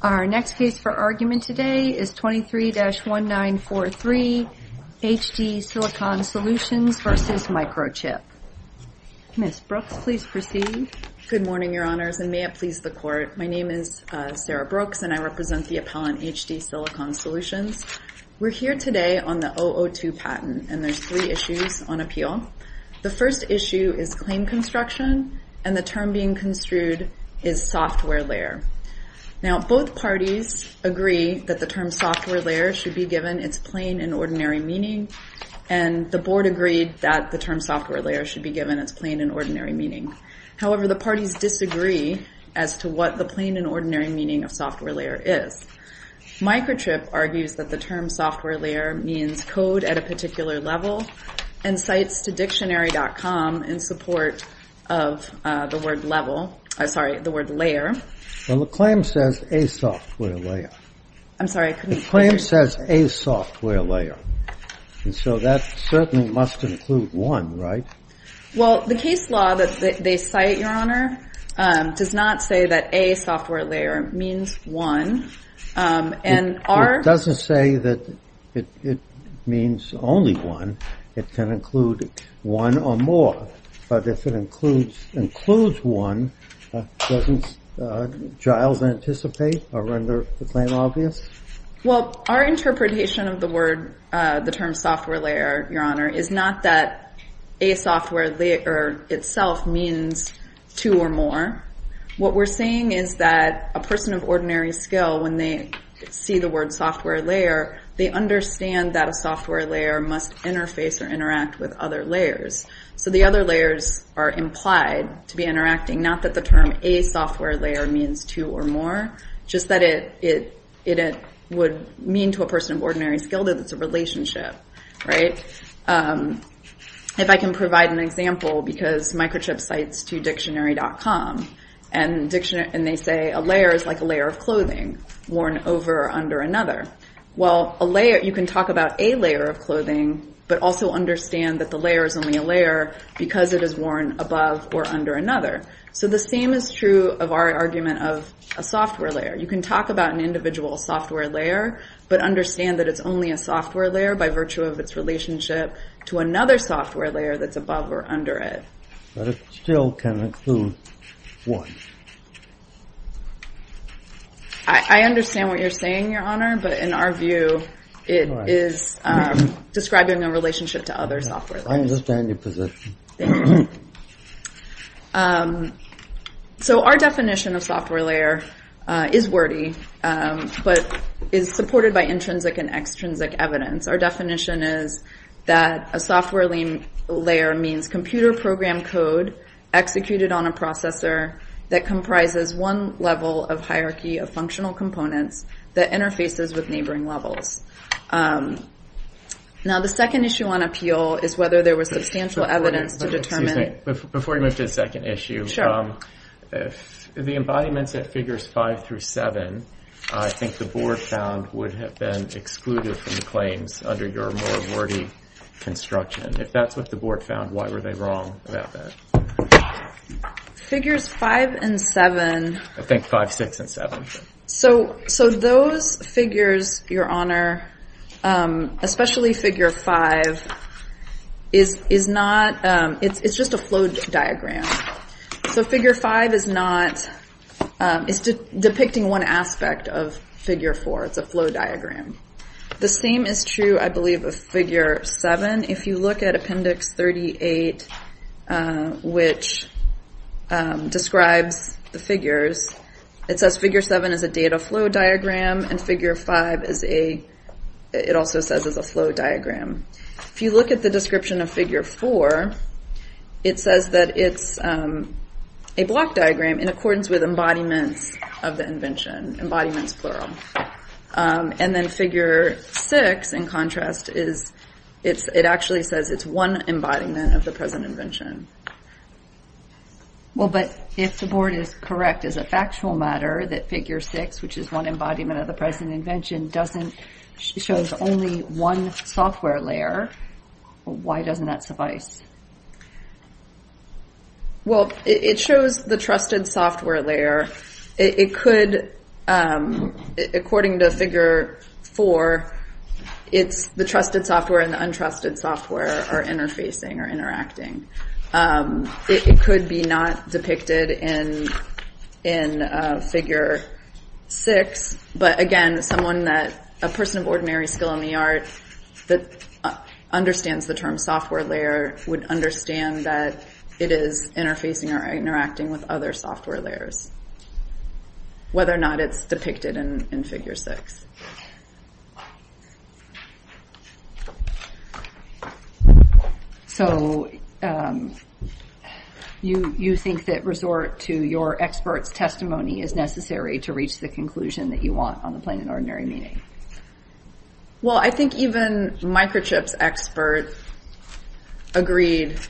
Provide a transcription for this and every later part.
Our next case for argument today is 23-1943, HD Silicon Solutions v. Microchip. Ms. Brooks, please proceed. Good morning, Your Honors, and may it please the Court. My name is Sarah Brooks, and I represent the appellant, HD Silicon Solutions. We're here today on the 002 patent, and there's three issues on appeal. The first issue is claim construction, and the term being construed is software layer. Now, both parties agree that the term software layer should be given its plain and ordinary meaning, and the Board agreed that the term software layer should be given its plain and ordinary meaning. However, the parties disagree as to what the plain and ordinary meaning of software layer is. Microchip argues that the term software layer means code at a particular level, and cites to dictionary.com in support of the word level, I'm sorry, the word layer. Well, the claim says a software layer. I'm sorry, I couldn't hear you. The claim says a software layer, and so that certainly must include one, right? Well, the case law that they cite, Your Honor, does not say that a software layer means one. It doesn't say that it means only one. It can include one or more, but if it includes one, doesn't Giles anticipate or render the claim obvious? Well, our interpretation of the word, the term software layer, Your Honor, is not that a software layer itself means two or more. What we're saying is that a person of ordinary skill, when they see the word software layer, they understand that a software layer must interface or interact with other layers. So the other layers are implied to be interacting, not that the term a software layer means two or more, just that it would mean to a person of ordinary skill that it's a relationship, right? If I can provide an example, because Microchip cites to dictionary.com, and they say a layer is like a layer of clothing worn over or under another. Well, a layer, you can talk about a layer of clothing, but also understand that the layer is only a layer because it is worn above or under another. So the same is true of our argument of a software layer. You can talk about an individual software layer, but understand that it's only a software layer by virtue of its relationship to another software layer that's above or under it. But it still can include one. I understand what you're saying, Your Honor, but in our view, it is describing a relationship to other software layers. I understand your position. So our definition of software layer is wordy, but is supported by intrinsic and extrinsic evidence. Our definition is that a software layer means computer program code executed on a processor that comprises one level of hierarchy of functional components that interfaces with neighboring levels. Now, the second issue on appeal is whether there was substantial evidence to determine... Before you move to the second issue, the embodiments at Figures 5 through 7, I think the board found would have been excluded from the claims under your more wordy construction. If that's what the board found, why were they wrong about that? Figures 5 and 7... I think 5, 6, and 7. So those figures, Your Honor, especially Figure 5, it's just a flow diagram. So Figure 5 is depicting one aspect of Figure 4. It's a flow diagram. The same is true, I believe, of Figure 7. If you look at Appendix 38, which describes the figures, it says Figure 7 is a data flow diagram, and Figure 5 also says is a flow diagram. If you look at the description of Figure 4, it says that it's a block diagram in accordance with embodiments of the invention. Embodiments, plural. And then Figure 6, in contrast, it actually says it's one embodiment of the present invention. Well, but if the board is correct as a factual matter that Figure 6, which is one embodiment of the present invention, shows only one software layer, why doesn't that suffice? Well, it shows the trusted software layer. It could, according to Figure 4, it's the trusted software and the untrusted software are interfacing or interacting. It could be not depicted in Figure 6, but, again, a person of ordinary skill in the art that understands the term software layer would understand that it is interfacing or interacting with other software layers, whether or not it's depicted in Figure 6. So you think that resort to your expert's testimony is necessary to reach the conclusion that you want on the plain and ordinary meaning? Well, I think even microchip's expert agreed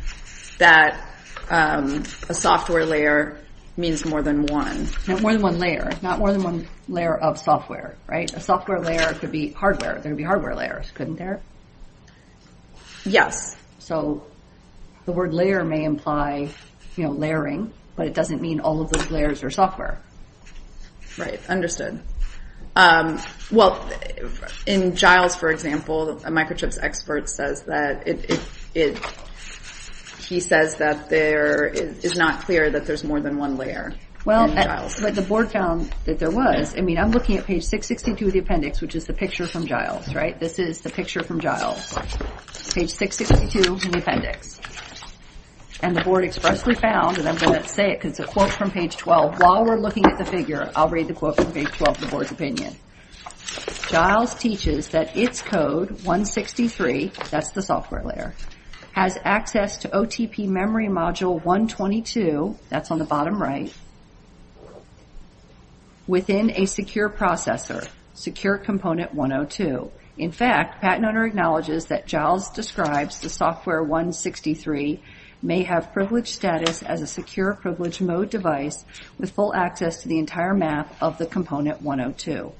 that a software layer means more than one. No, more than one layer. Not more than one layer of software, right? A software layer could be hardware. There would be hardware layers, couldn't there? Yes. So the word layer may imply layering, but it doesn't mean all of those layers are software. Right, understood. Well, in Giles, for example, a microchip's expert says that it, he says that there is not clear that there's more than one layer in Giles. Well, but the board found that there was. I mean, I'm looking at page 662 of the appendix, which is the picture from Giles, right? This is the picture from Giles, page 662 in the appendix. And the board expressly found, and I'm going to say it because it quotes from page 12. While we're looking at the figure, I'll read the quote from page 12 of the board's opinion. Giles teaches that its code, 163, that's the software layer, has access to OTP memory module 122, that's on the bottom right, within a secure processor, secure component 102. In fact, patent owner acknowledges that Giles describes the software 163 may have privileged status as a secure privilege mode device with full access to the entire map of the component 102.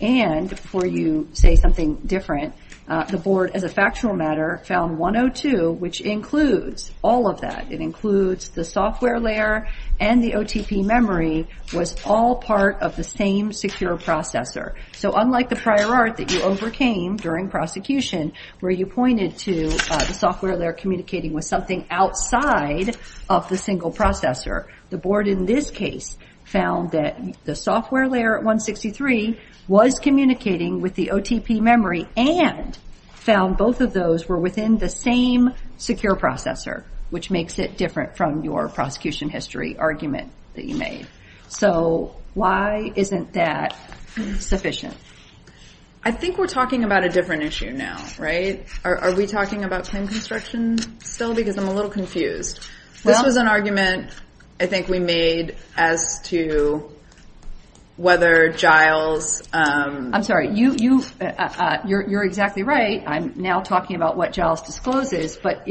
And before you say something different, the board, as a factual matter, found 102, which includes all of that. It includes the software layer and the OTP memory was all part of the same secure processor. So unlike the prior art that you overcame during prosecution, where you pointed to the software layer communicating with something outside of the single processor, the board in this case found that the software layer 163 was communicating with the OTP memory and found both of those were within the same secure processor, which makes it different from your prosecution history argument that you made. So why isn't that sufficient? I think we're talking about a different issue now, right? Are we talking about claim construction still? Because I'm a little confused. This was an argument I think we made as to whether Giles... I'm sorry, you're exactly right. I'm now talking about what Giles discloses, but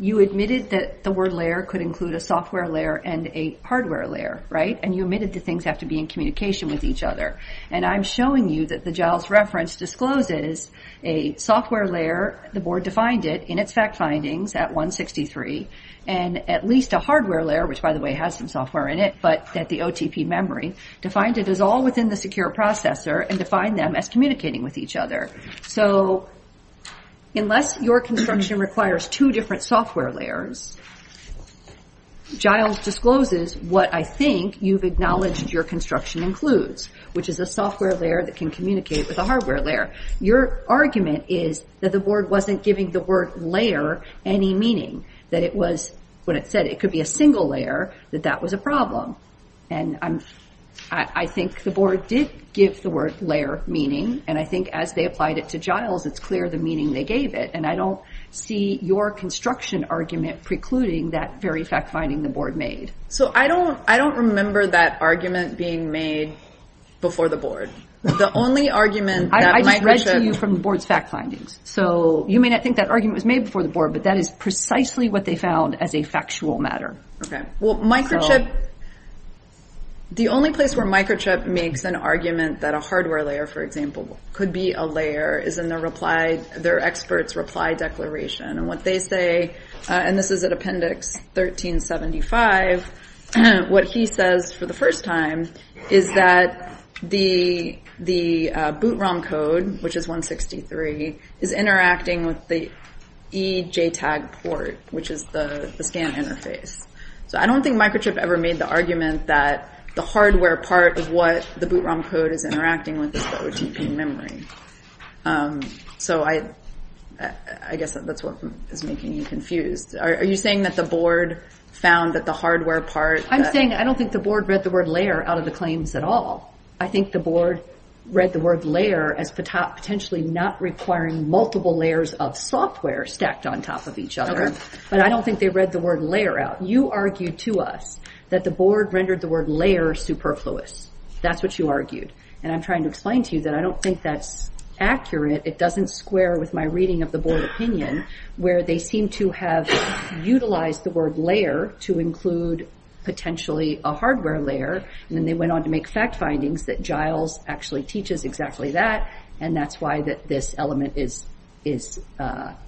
you admitted that the word layer could include a software layer and a hardware layer, right? And you admitted that things have to be in communication with each other. And I'm showing you that the Giles reference discloses a software layer, the board defined it in its fact findings at 163, and at least a hardware layer, which by the way has some software in it, but that the OTP memory defined it as all within the secure processor and defined them as communicating with each other. So unless your construction requires two different software layers, Giles discloses what I think you've acknowledged your construction includes, which is a software layer that can communicate with a hardware layer. Your argument is that the board wasn't giving the word layer any meaning, that it was, when it said it could be a single layer, that that was a problem. And I think the board did give the word layer meaning, and I think as they applied it to Giles, it's clear the meaning they gave it. And I don't see your construction argument precluding that very fact finding the board made. So I don't remember that argument being made before the board. The only argument that Microchip... I just read to you from the board's fact findings. So you may not think that argument was made before the board, but that is precisely what they found as a factual matter. Okay. Well, Microchip, the only place where Microchip makes an argument that a hardware layer, for example, could be a layer is in their experts' reply declaration. And what they say, and this is at appendix 1375, what he says for the first time is that the boot ROM code, which is 163, is interacting with the EJTAG port, which is the scan interface. So I don't think Microchip ever made the argument that the hardware part of what the boot ROM code is interacting with is OTP memory. So I guess that's what is making you confused. Are you saying that the board found that the hardware part... I'm saying I don't think the board read the word layer out of the claims at all. I think the board read the word layer as potentially not requiring multiple layers of software stacked on top of each other. But I don't think they read the word layer out. You argued to us that the board rendered the word layer superfluous. That's what you argued, and I'm trying to explain to you that I don't think that's accurate. It doesn't square with my reading of the board opinion, where they seem to have utilized the word layer to include potentially a hardware layer, and then they went on to make fact findings that Giles actually teaches exactly that, and that's why this element is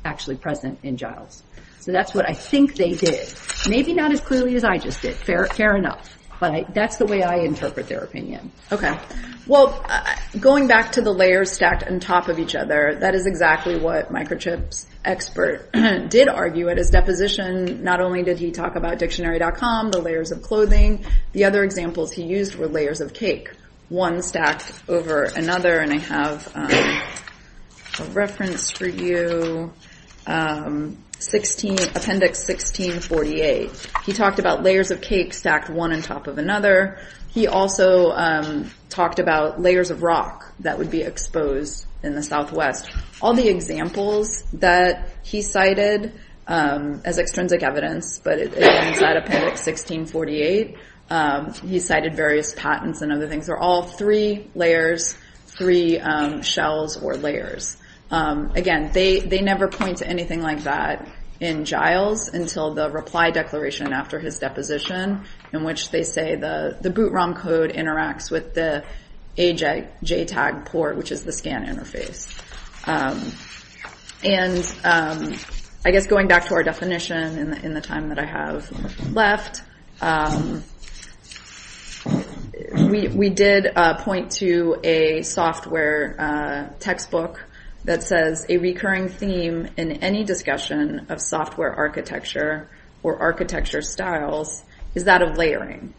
actually present in Giles. So that's what I think they did. Maybe not as clearly as I just did. Fair enough. But that's the way I interpret their opinion. Well, going back to the layers stacked on top of each other, that is exactly what Microchip's expert did argue at his deposition. Not only did he talk about dictionary.com, the layers of clothing, the other examples he used were layers of cake, one stacked over another. I have a reference for you, Appendix 1648. He talked about layers of cake stacked one on top of another. He also talked about layers of rock that would be exposed in the Southwest. All the examples that he cited as extrinsic evidence, but inside Appendix 1648, he cited various patents and other things. These are all three layers, three shells or layers. Again, they never point to anything like that in Giles until the reply declaration after his deposition, in which they say the boot ROM code interacts with the AJTAG port, which is the scan interface. And I guess going back to our definition in the time that I have left, we did point to a software textbook that says, a recurring theme in any discussion of software architecture or architecture styles is that of layering.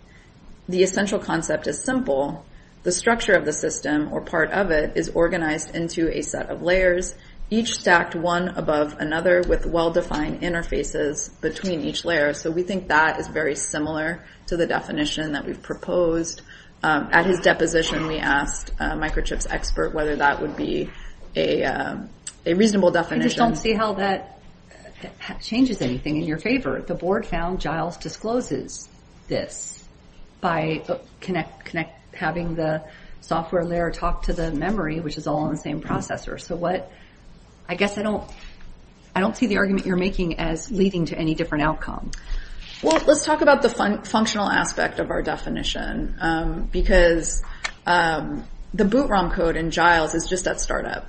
The essential concept is simple. The structure of the system or part of it is organized into a set of layers, each stacked one above another with well-defined interfaces between each layer. So we think that is very similar to the definition that we've proposed. At his deposition, we asked a microchips expert whether that would be a reasonable definition. I just don't see how that changes anything in your favor. The board found Giles discloses this by having the software layer talk to the memory, which is all on the same processor. I guess I don't see the argument you're making as leading to any different outcome. Well, let's talk about the functional aspect of our definition, because the boot ROM code in Giles is just at startup.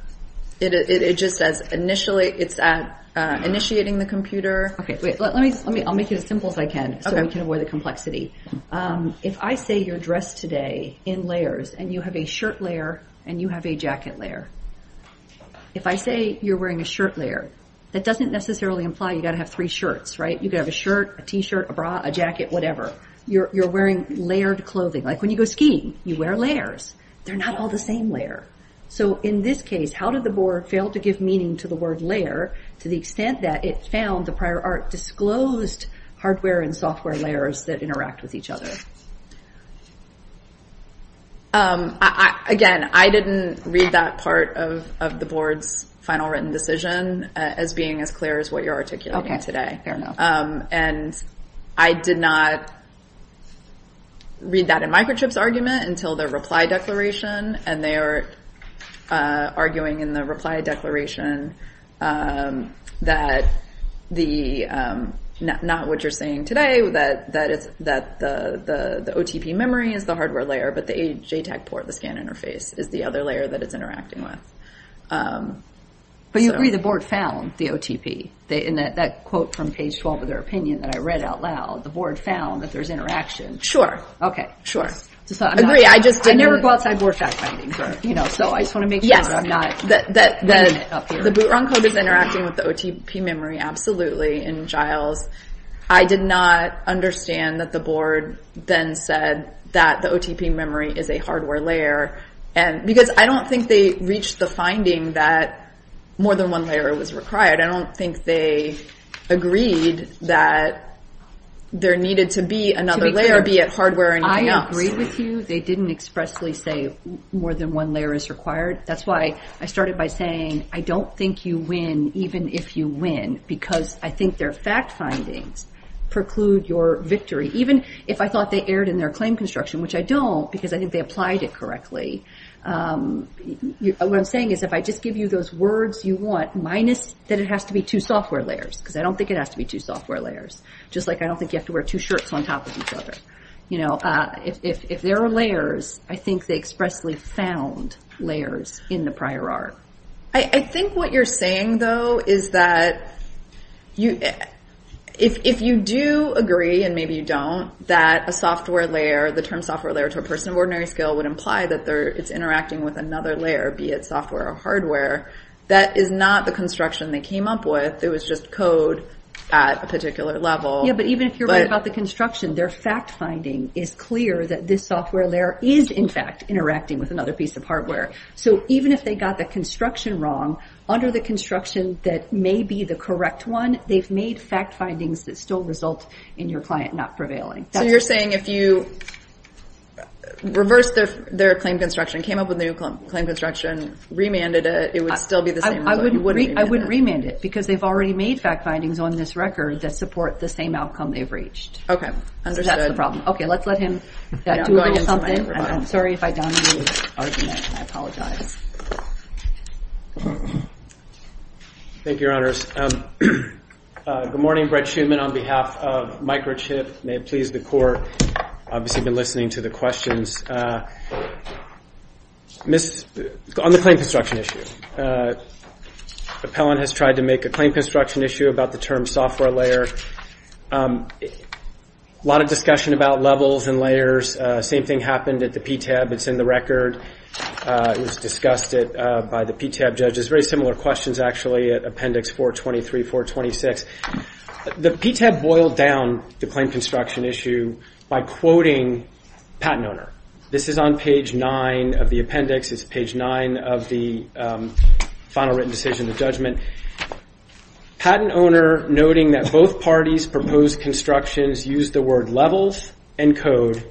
It's at initiating the computer. I'll make it as simple as I can so we can avoid the complexity. If I say you're dressed today in layers and you have a shirt layer and you have a jacket layer, if I say you're wearing a shirt layer, that doesn't necessarily imply you've got to have three shirts. You could have a shirt, a t-shirt, a bra, a jacket, whatever. You're wearing layered clothing. When you go skiing, you wear layers. They're not all the same layer. In this case, how did the board fail to give meaning to the word layer to the extent that it found the prior art disclosed hardware and software layers that interact with each other? Again, I didn't read that part of the board's final written decision as being as clear as what you're articulating today. I did not read that in Microchip's argument until their reply declaration, and they are arguing in the reply declaration that not what you're saying today, that the OTP memory is the hardware layer, but the JTAG port, the scan interface, is the other layer that it's interacting with. But you agree the board found the OTP. In that quote from page 12 of their opinion that I read out loud, the board found that there's interaction. Sure. Okay. Sure. I agree. I never go outside board fact-finding, so I just want to make sure that I'm not wearing it up here. The boot run code is interacting with the OTP memory, absolutely, in Giles. I did not understand that the board then said that the OTP memory is a hardware layer, because I don't think they reached the finding that more than one layer was required. I don't think they agreed that there needed to be another layer, be it hardware or anything else. They didn't agree with you. They didn't expressly say more than one layer is required. That's why I started by saying I don't think you win even if you win, because I think their fact findings preclude your victory, even if I thought they erred in their claim construction, which I don't, because I think they applied it correctly. What I'm saying is if I just give you those words you want, minus that it has to be two software layers, because I don't think it has to be two software layers, just like I don't think you have to wear two shirts on top of each other. If there are layers, I think they expressly found layers in the prior art. I think what you're saying, though, is that if you do agree, and maybe you don't, that a software layer, the term software layer to a person of ordinary skill, would imply that it's interacting with another layer, be it software or hardware, that is not the construction they came up with. It was just code at a particular level. Yeah, but even if you're right about the construction, their fact finding is clear that this software layer is, in fact, interacting with another piece of hardware. So even if they got the construction wrong, under the construction that may be the correct one, they've made fact findings that still result in your client not prevailing. So you're saying if you reversed their claim construction, came up with a new claim construction, remanded it, it would still be the same? I wouldn't remand it because they've already made fact findings on this record that support the same outcome they've reached. Okay, understood. So that's the problem. Okay, let's let him do something. I'm sorry if I downplayed his argument. I apologize. Thank you, Your Honors. Good morning. Brett Shuman on behalf of Microchip. May it please the Court. Obviously, I've been listening to the questions. On the claim construction issue, Appellant has tried to make a claim construction issue about the term software layer. A lot of discussion about levels and layers. Same thing happened at the PTAB. It's in the record. It was discussed by the PTAB judges. Very similar questions, actually, at Appendix 423, 426. The PTAB boiled down the claim construction issue by quoting patent owner. This is on page 9 of the appendix. It's page 9 of the final written decision, the judgment. Patent owner noting that both parties proposed constructions used the word levels and code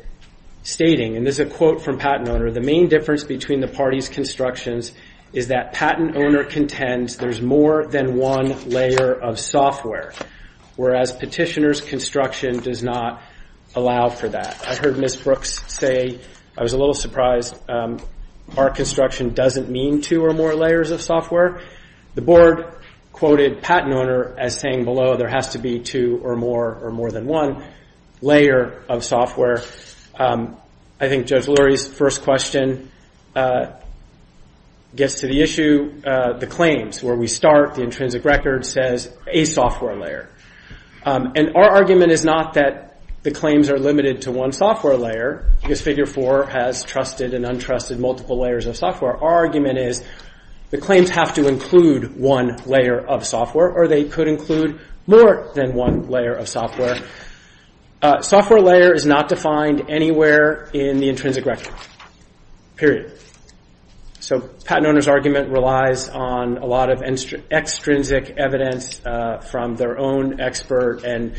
stating, and this is a quote from patent owner, the main difference between the parties' constructions is that patent owner contends there's more than one layer of software, whereas petitioner's construction does not allow for that. I heard Ms. Brooks say, I was a little surprised, our construction doesn't mean two or more layers of software. The board quoted patent owner as saying below there has to be two or more or more than one layer of software. I think Judge Lurie's first question gets to the issue, the claims. Where we start, the intrinsic record says a software layer. And our argument is not that the claims are limited to one software layer, because Figure 4 has trusted and untrusted multiple layers of software. Our argument is the claims have to include one layer of software, or they could include more than one layer of software. Software layer is not defined anywhere in the intrinsic record, period. So patent owner's argument relies on a lot of extrinsic evidence from their own expert and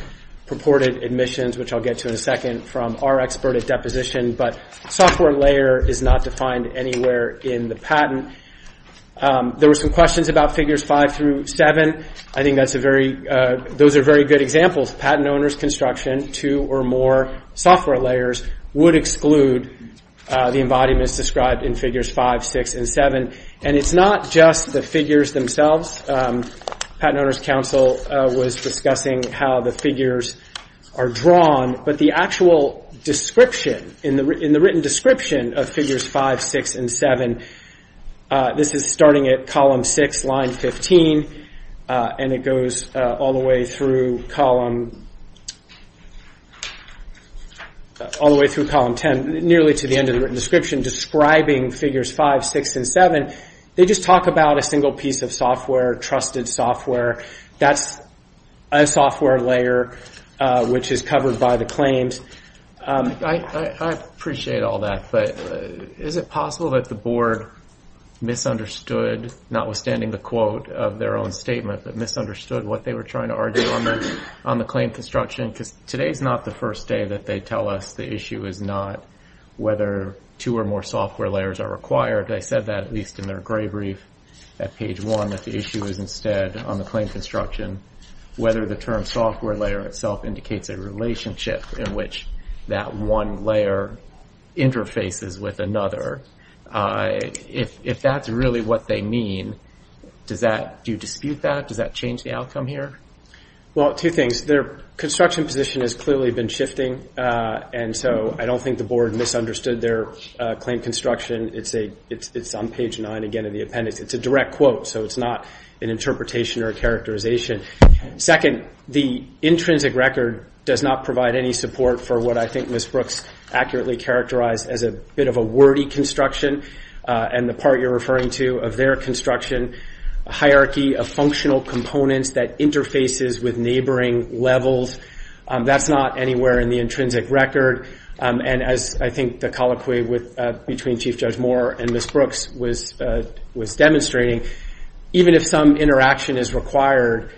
purported admissions, which I'll get to in a second, from our expert at deposition. But software layer is not defined anywhere in the patent. There were some questions about Figures 5 through 7. I think those are very good examples. Patent owner's construction, two or more software layers, would exclude the embodiments described in Figures 5, 6, and 7. And it's not just the figures themselves. Patent owner's counsel was discussing how the figures are drawn. But the actual description, in the written description of Figures 5, 6, and 7, this is starting at Column 6, Line 15, and it goes all the way through Column 10, nearly to the end of the written description, describing Figures 5, 6, and 7. They just talk about a single piece of software, trusted software. That's a software layer which is covered by the claims. I appreciate all that, but is it possible that the Board misunderstood, notwithstanding the quote of their own statement, but misunderstood what they were trying to argue on the claim construction? Because today's not the first day that they tell us the issue is not whether two or more software layers are required. They said that, at least in their gray brief at Page 1, that the issue is instead, on the claim construction, whether the term software layer itself indicates a relationship in which that one layer interfaces with another. If that's really what they mean, do you dispute that? Does that change the outcome here? Well, two things. Their construction position has clearly been shifting, and so I don't think the Board misunderstood their claim construction. It's on Page 9, again, in the appendix. It's a direct quote, so it's not an interpretation or a characterization. Second, the intrinsic record does not provide any support for what I think Ms. Brooks accurately characterized as a bit of a wordy construction, and the part you're referring to of their construction, a hierarchy of functional components that interfaces with neighboring levels. That's not anywhere in the intrinsic record, and as I think the colloquy between Chief Judge Moore and Ms. Brooks was demonstrating, even if some interaction is required,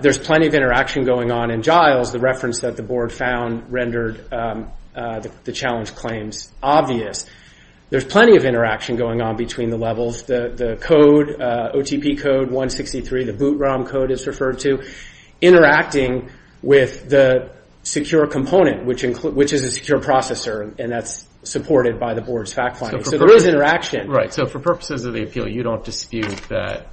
there's plenty of interaction going on in Giles. The reference that the Board found rendered the challenge claims obvious. There's plenty of interaction going on between the levels. The code, OTP code 163, the boot ROM code it's referred to, interacting with the secure component, which is a secure processor, and that's supported by the Board's fact finding. So there is interaction. Right. So for purposes of the appeal, you don't dispute that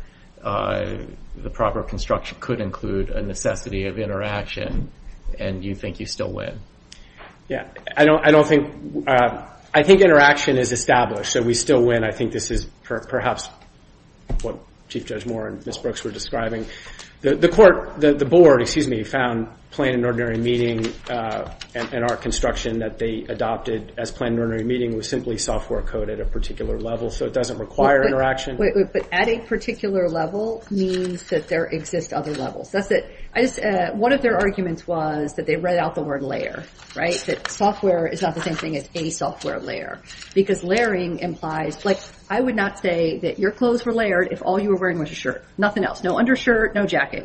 the proper construction could include a necessity of interaction, and you think you still win? Yeah. I think interaction is established, so we still win. I think this is perhaps what Chief Judge Moore and Ms. Brooks were describing. The Court, the Board, excuse me, found Planned and Ordinary Meeting and our construction that they adopted as Planned and Ordinary Meeting was simply software code at a particular level, so it doesn't require interaction. But at a particular level means that there exist other levels. That's it. One of their arguments was that they read out the word layer, right, that software is not the same thing as a software layer, because layering implies, like I would not say that your clothes were layered if all you were wearing was a shirt. Nothing else. No undershirt, no jacket.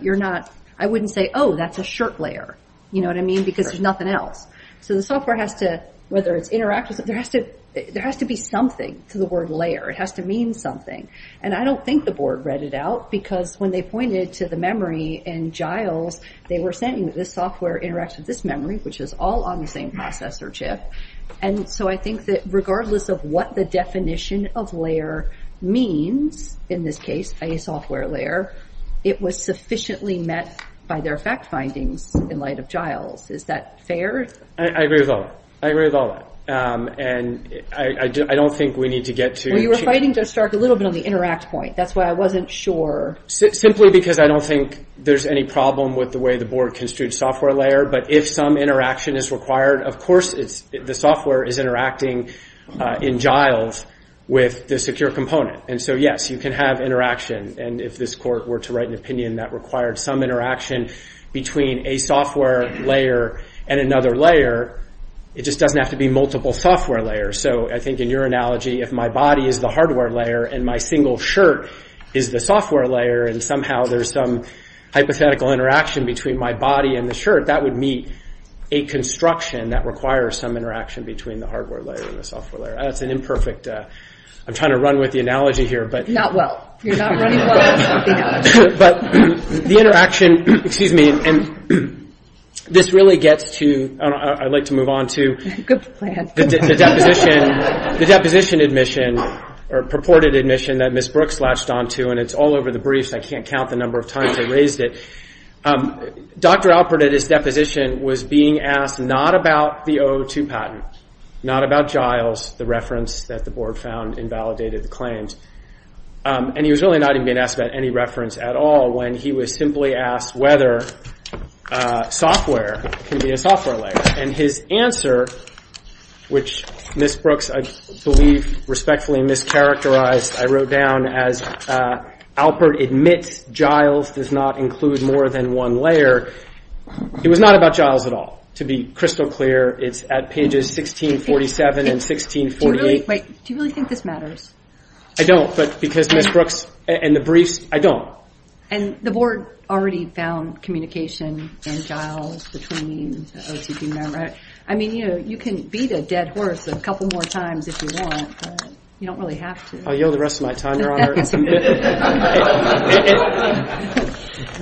I wouldn't say, oh, that's a shirt layer, you know what I mean, because there's nothing else. So the software has to, whether it's interactive, there has to be something to the word layer. It has to mean something. And I don't think the Board read it out, because when they pointed to the memory in Giles, they were saying that this software interacts with this memory, which is all on the same processor chip. And so I think that regardless of what the definition of layer means, in this case, a software layer, it was sufficiently met by their fact findings in light of Giles. Is that fair? I agree with all that. I agree with all that. And I don't think we need to get to. Well, you were fighting, Joe Stark, a little bit on the interact point. That's why I wasn't sure. Simply because I don't think there's any problem with the way the Board construed software layer. But if some interaction is required, of course the software is interacting in Giles with the secure component. And so, yes, you can have interaction. And if this Court were to write an opinion that required some interaction between a software layer and another layer, it just doesn't have to be multiple software layers. So I think in your analogy, if my body is the hardware layer and my single shirt is the software layer, and somehow there's some hypothetical interaction between my body and the shirt, that would meet a construction that requires some interaction between the hardware layer and the software layer. That's an imperfect. I'm trying to run with the analogy here. Not well. You're not running well. But the interaction, excuse me, and this really gets to, I'd like to move on to the deposition admission, or purported admission that Ms. Brooks latched onto, and it's all over the briefs. I can't count the number of times I raised it. Dr. Alpert, at his deposition, was being asked not about the 002 patent, not about Giles, the reference that the Board found invalidated the claims. And he was really not even being asked about any reference at all when he was simply asked whether software can be a software layer. And his answer, which Ms. Brooks, I believe, respectfully mischaracterized, I wrote down as Alpert admits Giles does not include more than one layer. It was not about Giles at all. To be crystal clear, it's at pages 1647 and 1648. Do you really think this matters? I don't. But because Ms. Brooks and the briefs, I don't. And the Board already found communication in Giles between the OTP members. I mean, you can beat a dead horse a couple more times if you want, but you don't really have to. I'll yell the rest of my time, Your Honor.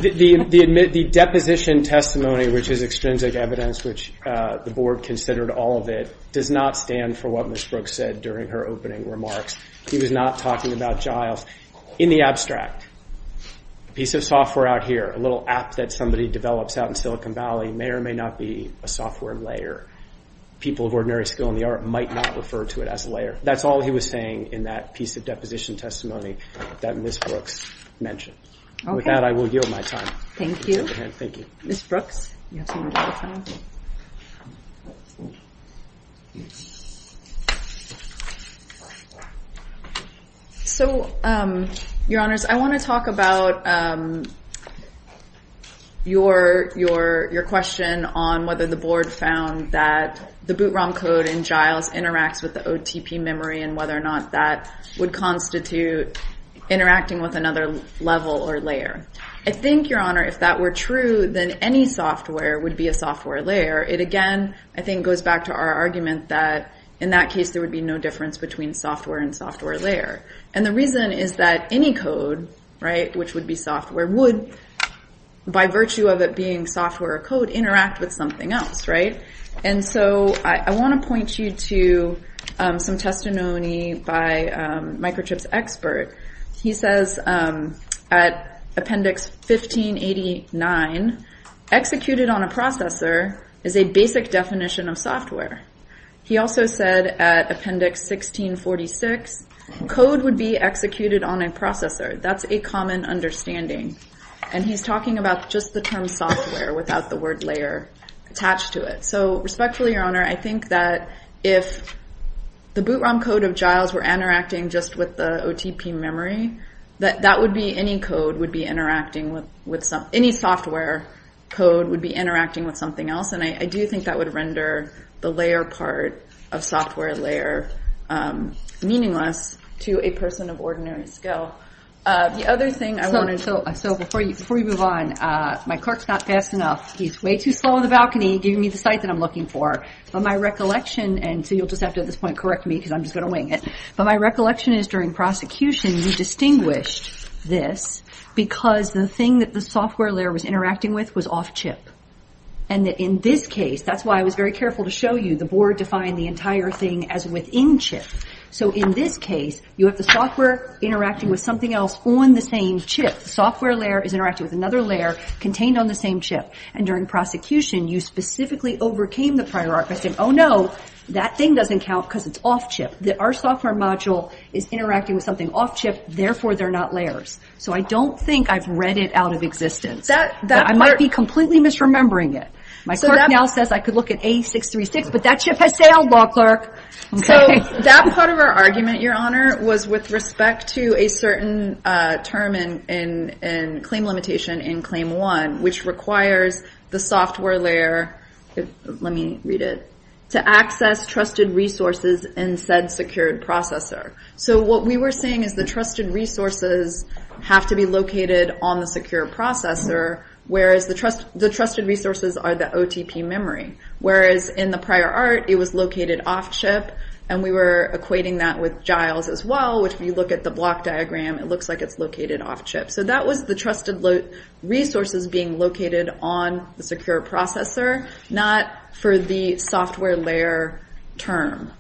The deposition testimony, which is extrinsic evidence, which the Board considered all of it, does not stand for what Ms. Brooks said during her opening remarks. He was not talking about Giles. In the abstract, a piece of software out here, a little app that somebody develops out in Silicon Valley, may or may not be a software layer. People of ordinary skill in the art might not refer to it as a layer. That's all he was saying in that piece of deposition testimony that Ms. Brooks mentioned. Okay. With that, I will yield my time. Thank you. Ms. Brooks, you have some more time. So, Your Honors, I want to talk about your question on whether the Board found that the boot ROM code in Giles interacts with the OTP memory and whether or not that would constitute interacting with another level or layer. I think, Your Honor, if that were true, then any software would be a software layer. It, again, I think goes back to our argument that, in that case, there would be no difference between software and software layer. And the reason is that any code, right, which would be software, would, by virtue of it being software or code, interact with something else, right? And so I want to point you to some testimony by Microchip's expert. He says, at Appendix 1589, executed on a processor is a basic definition of software. He also said, at Appendix 1646, code would be executed on a processor. That's a common understanding. And he's talking about just the term software without the word layer attached to it. So, respectfully, Your Honor, I think that if the boot ROM code of Giles were interacting just with the OTP memory, that would be any code would be interacting with some – any software code would be interacting with something else. And I do think that would render the layer part of software layer meaningless to a person of ordinary skill. The other thing I wanted to – so before you move on, my clerk's not fast enough. He's way too slow on the balcony, giving me the site that I'm looking for. But my recollection – and so you'll just have to, at this point, correct me because I'm just going to wing it. But my recollection is, during prosecution, you distinguished this because the thing that the software layer was interacting with was off-chip. And in this case, that's why I was very careful to show you, the board defined the entire thing as within-chip. So, in this case, you have the software interacting with something else on the same chip. The software layer is interacting with another layer contained on the same chip. And during prosecution, you specifically overcame the prior arc by saying, oh, no, that thing doesn't count because it's off-chip. Our software module is interacting with something off-chip. Therefore, they're not layers. So I don't think I've read it out of existence. I might be completely misremembering it. My clerk now says I could look at A636, but that chip has sailed, Law Clerk. So that part of our argument, Your Honor, was with respect to a certain term in claim limitation in Claim 1, which requires the software layer, let me read it, to access trusted resources in said secured processor. So what we were saying is the trusted resources have to be located on the secure processor, whereas the trusted resources are the OTP memory. Whereas in the prior arc, it was located off-chip, and we were equating that with Giles as well, which if you look at the block diagram, it looks like it's located off-chip. So that was the trusted resources being located on the secure processor, not for the software layer term,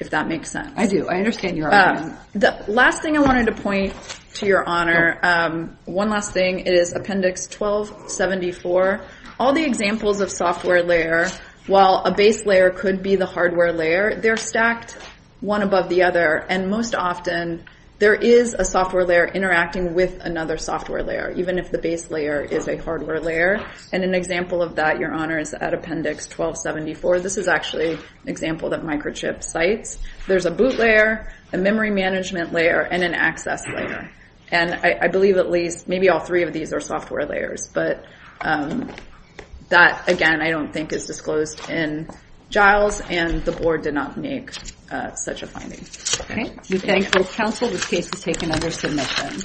if that makes sense. I do. I understand your argument. The last thing I wanted to point to, Your Honor, one last thing, is Appendix 1274. All the examples of software layer, while a base layer could be the hardware layer, they're stacked one above the other, and most often there is a software layer interacting with another software layer, even if the base layer is a hardware layer. And an example of that, Your Honor, is at Appendix 1274. This is actually an example that Microchip cites. There's a boot layer, a memory management layer, and an access layer. And I believe at least maybe all three of these are software layers, but that, again, I don't think is disclosed in Giles, and the Board did not make such a finding. Okay. We thank both counsel. This case is taken under submission.